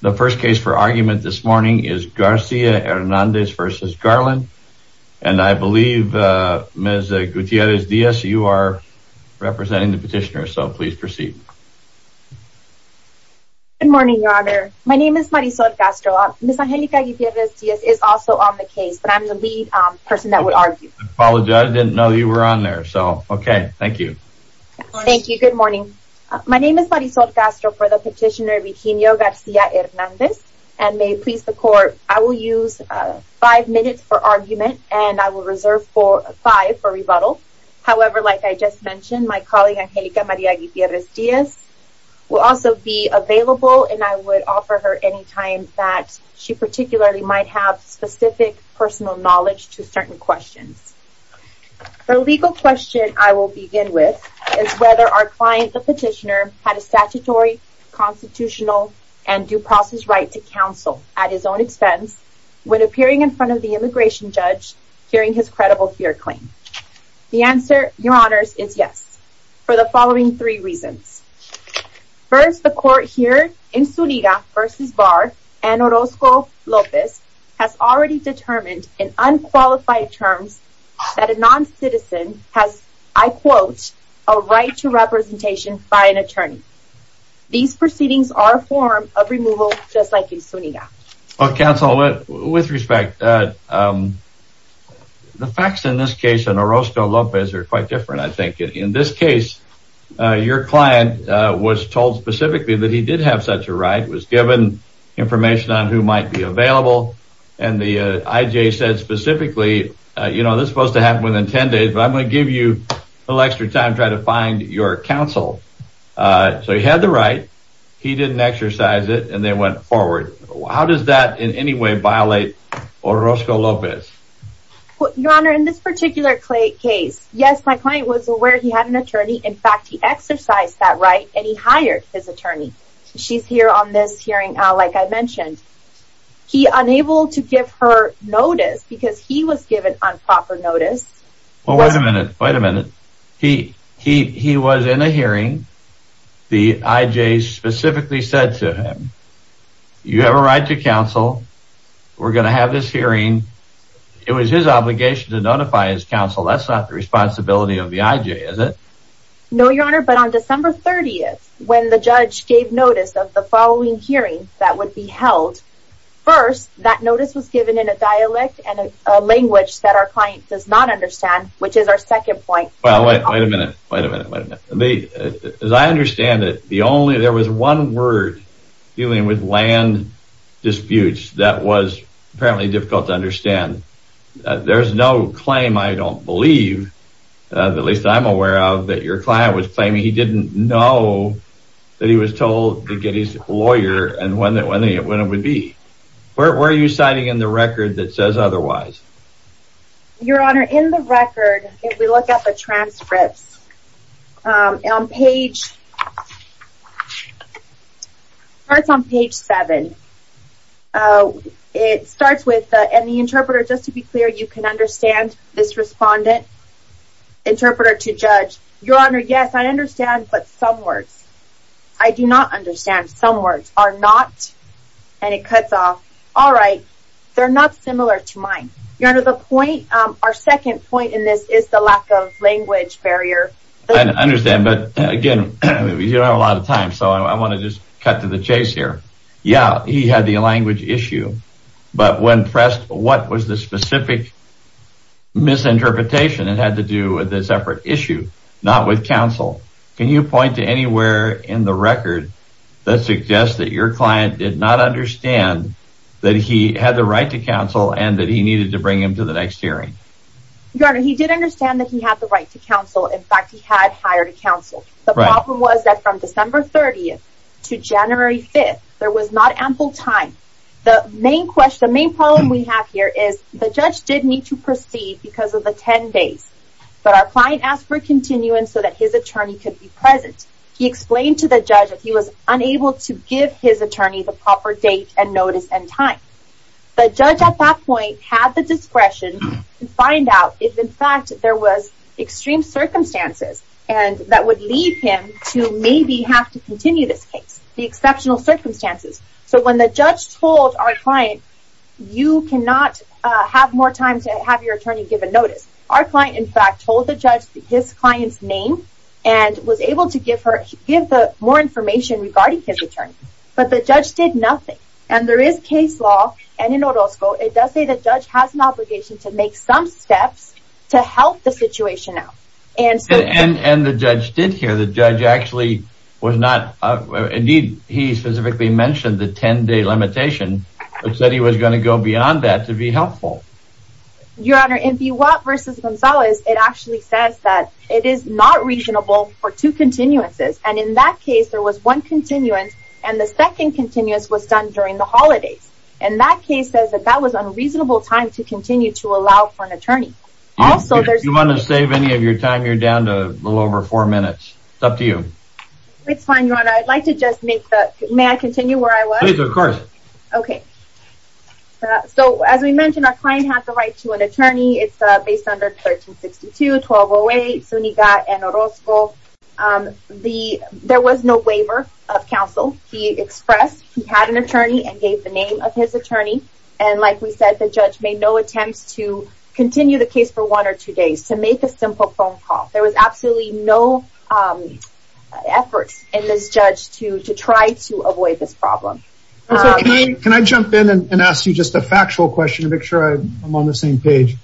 The first case for argument this morning is Garcia-Hernandez versus Garland and I believe Ms. Gutierrez-Diaz you are representing the petitioner so please proceed. Good morning your honor my name is Marisol Castro. Ms. Angelica Gutierrez-Diaz is also on the case but I'm the lead person that would argue. I apologize I didn't know you were on there so okay thank you. Thank you good morning my name is Marisol Castro for the petitioner Virginio Garcia-Hernandez and may please the court I will use five minutes for argument and I will reserve for five for rebuttal however like I just mentioned my colleague Angelica Maria Gutierrez-Diaz will also be available and I would offer her any time that she particularly might have specific personal knowledge to certain questions. The legal question I will begin with is whether our client the petitioner had a statutory constitutional and due process right to counsel at his own expense when appearing in front of the immigration judge hearing his credible fear claim. The answer your honors is yes for the following three reasons. First the court here in Sunita versus Barr and Orozco-Lopez has already determined in quotes a right to representation by an attorney. These proceedings are a form of removal just like in Sunita. Well counsel with respect the facts in this case and Orozco-Lopez are quite different I think in this case your client was told specifically that he did have such a right was given information on who might be available and the IJ said specifically you know this supposed to extra time try to find your counsel so he had the right he didn't exercise it and they went forward. How does that in any way violate Orozco-Lopez? Your honor in this particular case yes my client was aware he had an attorney in fact he exercised that right and he hired his attorney. She's here on this hearing like I mentioned. He unable to give her notice because he was given unproper notice. Well wait a minute wait a minute he he he was in a hearing the IJ specifically said to him you have a right to counsel we're gonna have this hearing it was his obligation to notify his counsel that's not the responsibility of the IJ is it? No your honor but on December 30th when the judge gave notice of the following hearing that would be held first that our client does not understand which is our second point. Well wait a minute wait a minute wait a minute they as I understand it the only there was one word dealing with land disputes that was apparently difficult to understand there's no claim I don't believe at least I'm aware of that your client was claiming he didn't know that he was told to get his lawyer and when that when in the record that says otherwise. Your honor in the record if we look at the transcripts on page starts on page 7 it starts with and the interpreter just to be clear you can understand this respondent interpreter to judge your honor yes I understand but some words I do not understand some words are not and it cuts off all right they're not similar to mine your honor the point our second point in this is the lack of language barrier. I understand but again you don't have a lot of time so I want to just cut to the chase here yeah he had the language issue but when pressed what was the specific misinterpretation it had to do with a separate issue not with counsel can you point to anywhere in the record that suggests that your client did not understand that he had the right to counsel and that he needed to bring him to the next hearing. Your honor he did understand that he had the right to counsel in fact he had hired a counsel the problem was that from December 30th to January 5th there was not ample time the main question the main problem we have here is the judge did need to proceed because of the 10 days but our client asked for continuance so that his attorney could be present he explained to the judge if he was unable to give his attorney the proper date and notice and time the judge at that point had the discretion to find out if in fact there was extreme circumstances and that would lead him to maybe have to continue this case the exceptional circumstances so when the judge told our client you cannot have more time to have your attorney give a notice our client in fact told the judge his client's name and was able to give her give the more information regarding his attorney but the judge did nothing and there is case law and in Orozco it does say the judge has an obligation to make some steps to help the situation out and and and the judge did hear the judge actually was not indeed he specifically mentioned the 10-day limitation which said he was going to go beyond that to be helpful your honor if you what versus Gonzalez it actually says that it is not reasonable for two continuances and in that case there was one continuance and the second continuous was done during the holidays and that case says that that was unreasonable time to continue to allow for an attorney also there's you want to save any of your time you're down to a little over four minutes it's up to you it's fine you know I'd like to just make that may I continue where I was of course okay so as we mentioned our client had the right to an attorney it's based under 1362 1208 so he got an oral school the there was no waiver of counsel he expressed he had an attorney and gave the name of his attorney and like we said the judge made no attempts to continue the case for one or two days to make a simple phone call there was absolutely no efforts in this judge to to try to avoid this problem okay can I jump in and ask you just a factual question to make sure I'm on the same page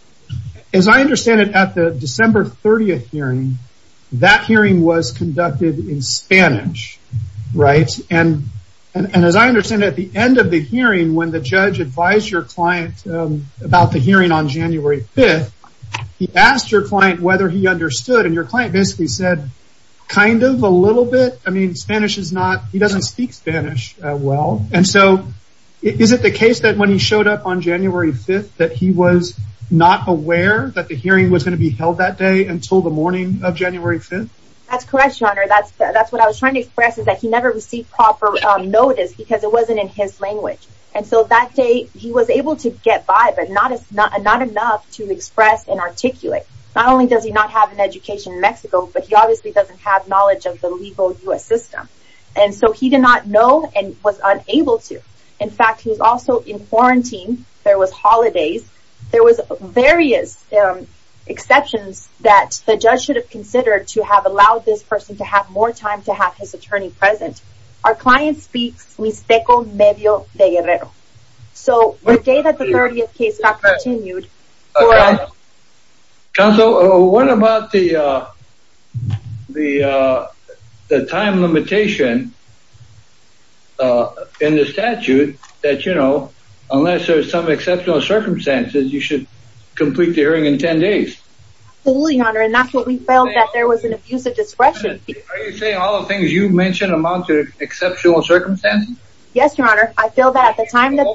as I understand it at the December 30th hearing that hearing was conducted in Spanish right and and as I understand at the end of the hearing when the judge advised your client about the hearing on January 5th he asked your client whether he understood and your client basically said kind of a little bit I mean Spanish is not he doesn't showed up on January 5th that he was not aware that the hearing was going to be held that day until the morning of January 5th that's correct your honor that's that's what I was trying to express is that he never received proper notice because it wasn't in his language and so that day he was able to get by but not it's not not enough to express and articulate not only does he not have an education in Mexico but he obviously doesn't have knowledge of the legal US system and so he did not know and was unable to in fact he was also in quarantine there was holidays there was various exceptions that the judge should have considered to have allowed this person to have more time to have his attorney present our client speaks we speckled maybe oh they get it so the day that the 30th case got continued so what about the the the time limitation in the circumstances you should complete the hearing in 10 days that there was an abusive discretion all the things you mentioned amount to exceptional circumstances yes your honor I feel that the time that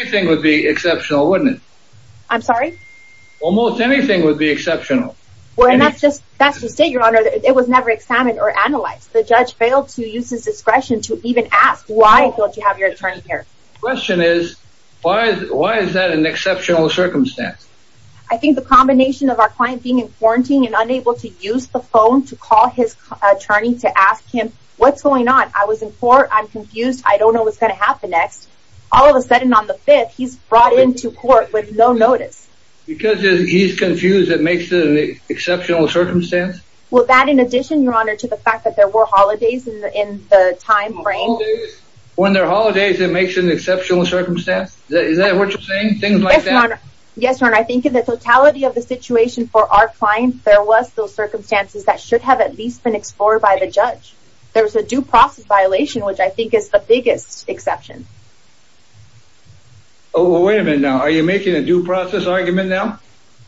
anything would be exceptional wouldn't it I'm sorry almost anything would be exceptional well that's just that's just it your honor it was never examined or analyzed the judge failed to use his discretion to even ask why don't you have your attorney here question is why is that an exceptional circumstance I think the combination of our client being in quarantine and unable to use the phone to call his attorney to ask him what's going on I was in court I'm confused I don't know what's going to happen next all of a sudden on the 5th he's brought into court with no notice because he's confused it makes it an exceptional circumstance well that in addition your honor to the fact that there were holidays in the time frame when their holidays it makes an exceptional circumstance that is that what you're saying things like that yes your honor I think in the totality of the situation for our client there was those circumstances that should have at least been explored by the judge there was a due process violation which I think is the biggest exception oh wait a minute now are you making a due process argument now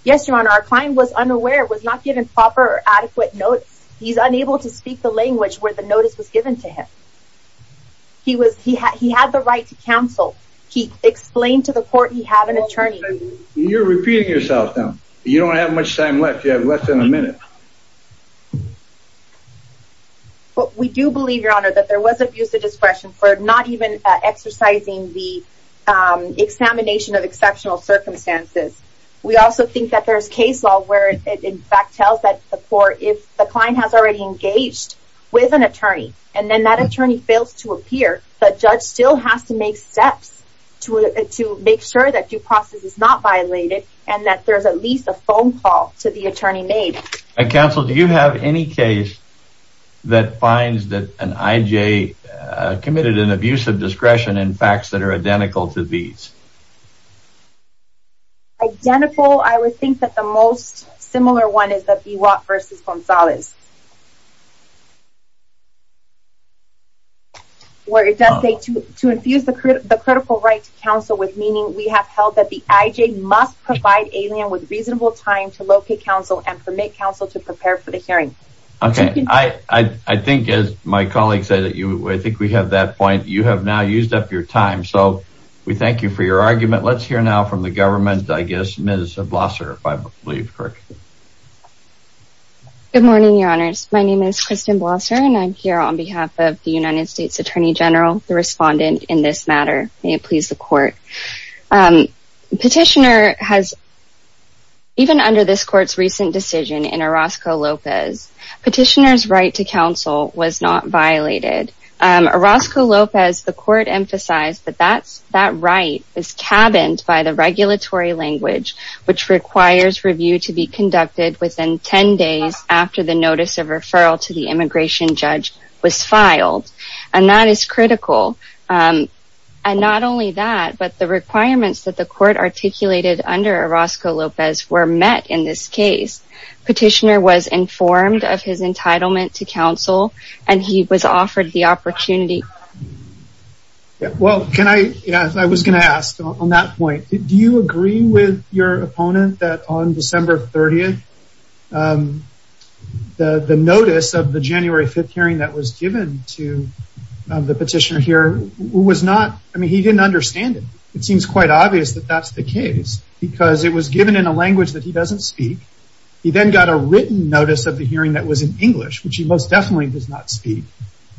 yes your honor our client was unaware was not given proper adequate notes he's unable to speak the language where the notice was given to him he was he had he had the right to counsel he explained to the court he have an attorney you're repeating yourself now you don't have much time left you have less than a minute but we do believe your honor that there was abuse of discretion for not even exercising the examination of exceptional circumstances we also think that there's case law where it in fact tells that the court if the client has already engaged with an attorney and then that attorney fails to appear but judge still has to make steps to it to make sure that due process is not violated and that there's at least a phone call to the attorney made I counsel do you have any case that finds that an IJ committed an abuse of discretion in facts that are identical to these identical I would think that the most similar one is that be what versus Gonzales where it does say to to infuse the critical right to counsel with meaning we have held that the IJ must provide alien with reasonable time to locate counsel and permit counsel to prepare for the hearing okay I I think as my colleagues say that you I think we have that point you have now used up your time so we thank you for your leave good morning your honors my name is Kristen Blosser and I'm here on behalf of the United States Attorney General the respondent in this matter may it please the court petitioner has even under this court's recent decision in Orozco Lopez petitioners right to counsel was not violated Orozco Lopez the court emphasized that that's that right is cabins by the to be conducted within 10 days after the notice of referral to the immigration judge was filed and that is critical and not only that but the requirements that the court articulated under Orozco Lopez were met in this case petitioner was informed of his entitlement to counsel and he was offered the opportunity well can I yeah I was gonna ask on that point do you agree with your opponent that on December 30th the the notice of the January 5th hearing that was given to the petitioner here was not I mean he didn't understand it it seems quite obvious that that's the case because it was given in a language that he doesn't speak he then got a written notice of the hearing that was in English which he most definitely does not speak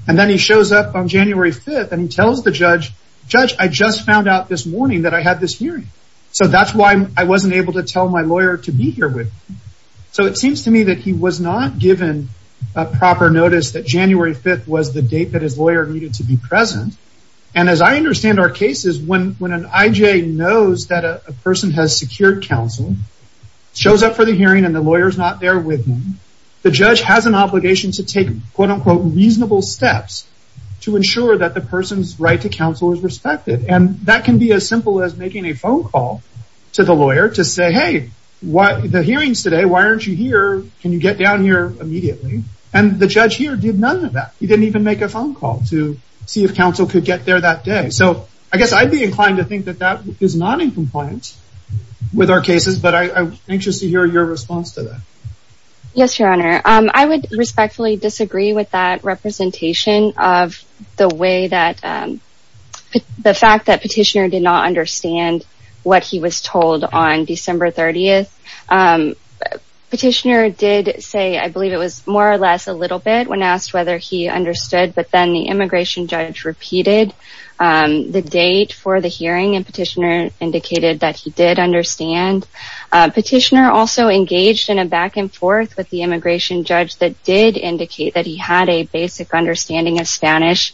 and then he shows up on January 5th and he tells the judge judge I just found out this morning that I had this hearing so that's why I wasn't able to tell my lawyer to be here with so it seems to me that he was not given a proper notice that January 5th was the date that his lawyer needed to be present and as I understand our cases when when an IJ knows that a person has secured counsel shows up for the hearing and the lawyers not there with me the judge has an obligation to take quote-unquote reasonable steps to ensure that the person's right to counsel is respected and that can be as a lawyer to say hey what the hearings today why aren't you here can you get down here immediately and the judge here did none of that he didn't even make a phone call to see if counsel could get there that day so I guess I'd be inclined to think that that is not in compliance with our cases but I'm anxious to hear your response to that yes your honor I would respectfully disagree with that representation of the way that the fact that petitioner did understand what he was told on December 30th petitioner did say I believe it was more or less a little bit when asked whether he understood but then the immigration judge repeated the date for the hearing and petitioner indicated that he did understand petitioner also engaged in a back-and-forth with the immigration judge that did indicate that he had a basic understanding of Spanish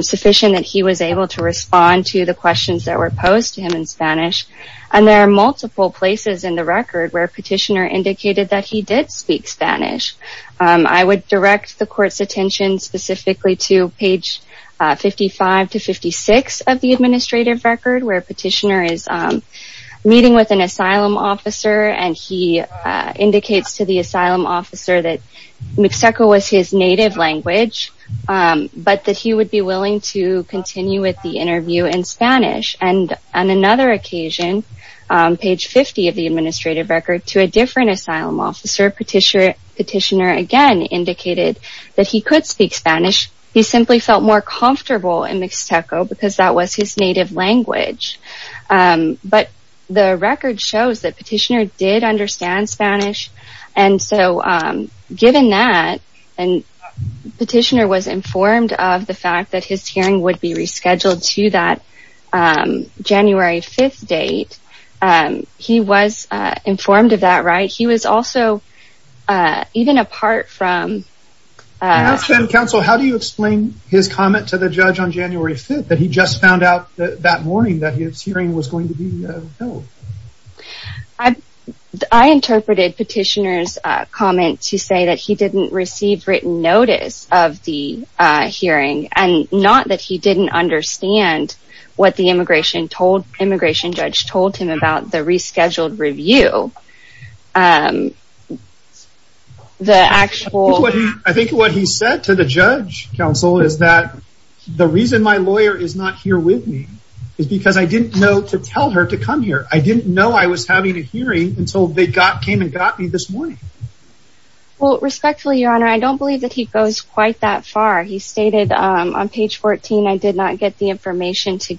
sufficient that he was able to respond to the questions that were posed to him in Spanish and there are multiple places in the record where petitioner indicated that he did speak Spanish I would direct the court's attention specifically to page 55 to 56 of the administrative record where petitioner is meeting with an asylum officer and he indicates to the asylum officer that Mexico was his native language but the record shows that petitioner did understand Spanish Spanish he would be willing to continue with the interview in Spanish and on another occasion page 50 of the administrative record to a different asylum officer petitioner again indicated that he could speak Spanish he simply felt more comfortable in Mexico because that was his native language but the record shows that petitioner did understand Spanish and so given that and petitioner was informed of the fact that his hearing would be rescheduled to that January 5th date and he was informed of that right he was also even apart from how do you explain his comment to the judge on January 5th that he just found out that morning that his hearing was going to be I interpreted petitioners comment to say that he didn't receive written notice of the hearing and not that he didn't understand what the immigration told immigration judge told him about the rescheduled review the actual I think what he said to the judge counsel is that the reason my lawyer is not here with me is because I didn't know to tell her to come here I didn't know I was having a hearing until they got came and got me this morning respectfully your honor I don't believe that he goes quite that far he stated on page 14 I did not get the information to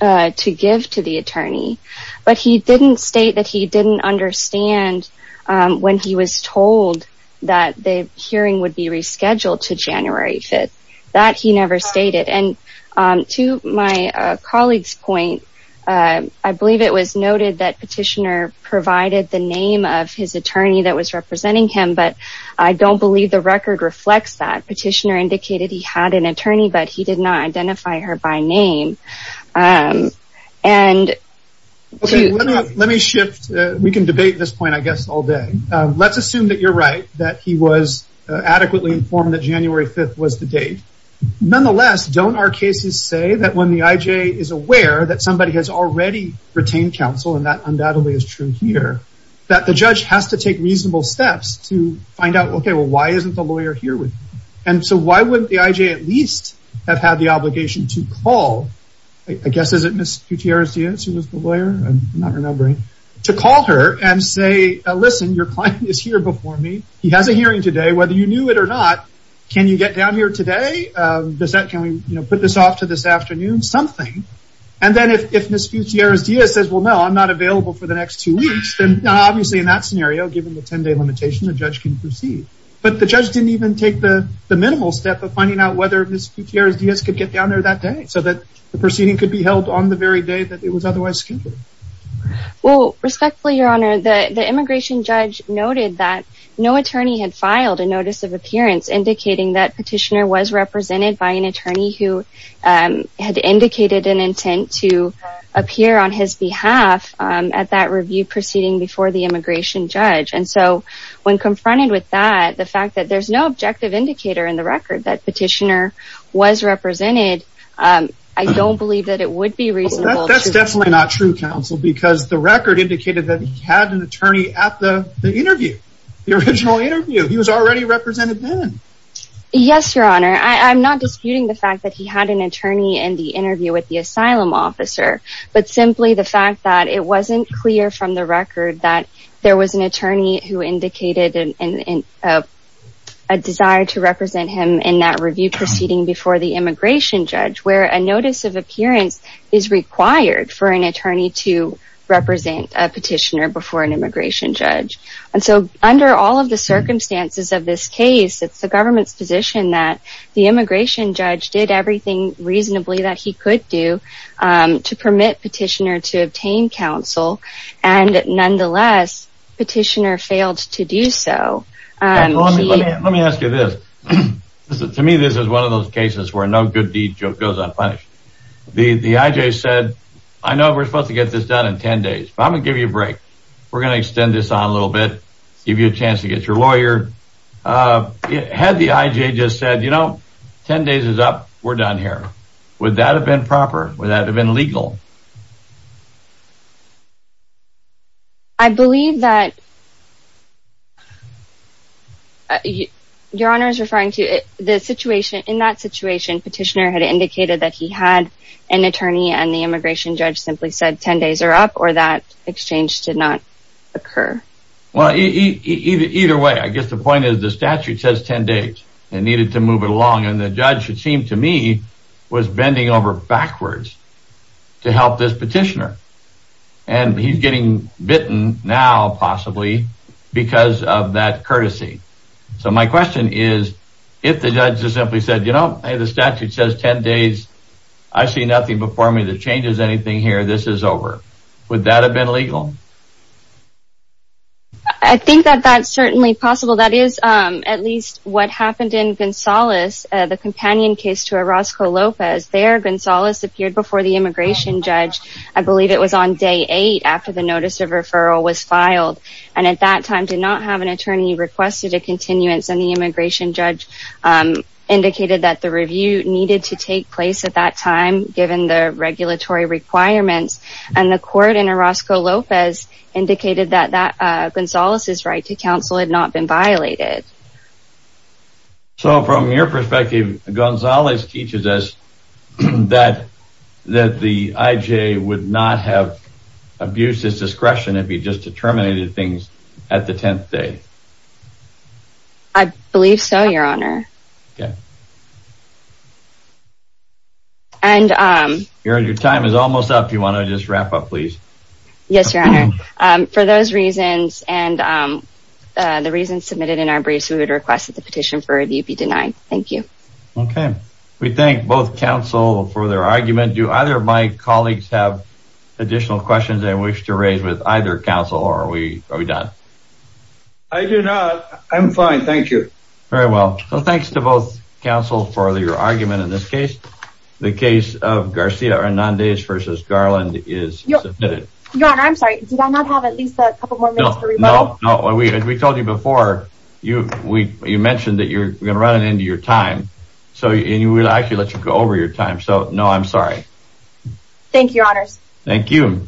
to give to the attorney but he didn't state that he didn't understand when he was told that the hearing would be rescheduled to January 5th that he never stated and to my colleagues point I believe it was noted that petitioner provided the name of his attorney that was representing him but I don't believe the record reflects that petitioner indicated he had an attorney but he did not identify her by name and let me shift we can debate this point I guess all day let's assume that you're right that he was adequately informed that January 5th was the date nonetheless don't our cases say that when the IJ is aware that somebody has already retained counsel and that undoubtedly is true here that the judge has to take reasonable steps to find out okay well why isn't the lawyer here with and so why wouldn't the IJ at least have had the obligation to call I guess is it Miss Gutierrez Diaz who was the lawyer I'm not remembering to call her and say listen your client is here before me he has a hearing today whether you knew it or not can you get down here today does that can we you know put this off to this afternoon something and then if Miss Gutierrez Diaz says well no I'm not available for the next two weeks then obviously in that scenario given the 10-day limitation the judge can proceed but the judge didn't even take the the minimal step of finding out whether Miss Gutierrez Diaz could get down there that day so that the proceeding could be held on the very day that it was otherwise scheduled well respectfully your honor the the immigration judge noted that no attorney had filed a notice of appearance indicating that petitioner was represented by an attorney who had indicated an intent to appear on his behalf at that review proceeding before the immigration judge and so when confronted with that the fact that there's no objective indicator in the record that petitioner was represented I don't believe that it would be reasonable that's definitely not true counsel because the record indicated that he had an attorney at the interview the original interview he was already represented then yes your honor I'm not disputing the fact that he had an attorney and the interview with the asylum officer but simply the fact that it wasn't clear from the record that there was an attorney who indicated in a desire to represent him in that review proceeding before the immigration judge where a notice of appearance is required for an attorney to represent a petitioner before an immigration judge and so under all of the circumstances of this case it's the government's position that the immigration judge did everything reasonably that he could do to permit petitioner to obtain counsel and nonetheless petitioner failed to do so let me ask you this to me this is one of those cases where no good deed goes unpunished the the IJ said I know we're supposed to get this done in ten days but I'm gonna give you a break we're gonna extend this on a little bit give you a chance to get your lawyer had the ten days is up we're done here would that have been proper would that have been legal I believe that your honor is referring to it the situation in that situation petitioner had indicated that he had an attorney and the immigration judge simply said ten days are up or that exchange did not occur well either way I guess the point is the statute says ten days and needed to move it along and the judge it seemed to me was bending over backwards to help this petitioner and he's getting bitten now possibly because of that courtesy so my question is if the judges simply said you know the statute says ten days I see nothing before me that changes anything here this is over would that have been legal I think that that's certainly possible that is at least what happened in Gonzales the companion case to a Roscoe Lopez there Gonzales appeared before the immigration judge I believe it was on day eight after the notice of referral was filed and at that time did not have an attorney requested a continuance and the immigration judge indicated that the review needed to take place at that time given the regulatory requirements and the court in a Roscoe Lopez indicated that that Gonzales' right to counsel had not been violated so from your perspective Gonzales teaches us that that the IJ would not have abuses discretion if he just determinated things at the tenth day I believe so your honor and your time is almost up you want to just wrap up please yes your honor for those reasons and the reasons submitted in our briefs we would request that the petition for review be denied thank you okay we thank both counsel for their argument do either of my colleagues have additional questions I wish to raise with either counsel or we are we done I do not I'm fine thank you very well so thanks to both counsel for your argument in this case the case of Garcia Hernandez versus Garland is no no I'm sorry did I not have at least a couple more no no no we had we told you before you we you mentioned that you're gonna run it into your time so you will actually let you go over your time so no I'm sorry thank you honors thank you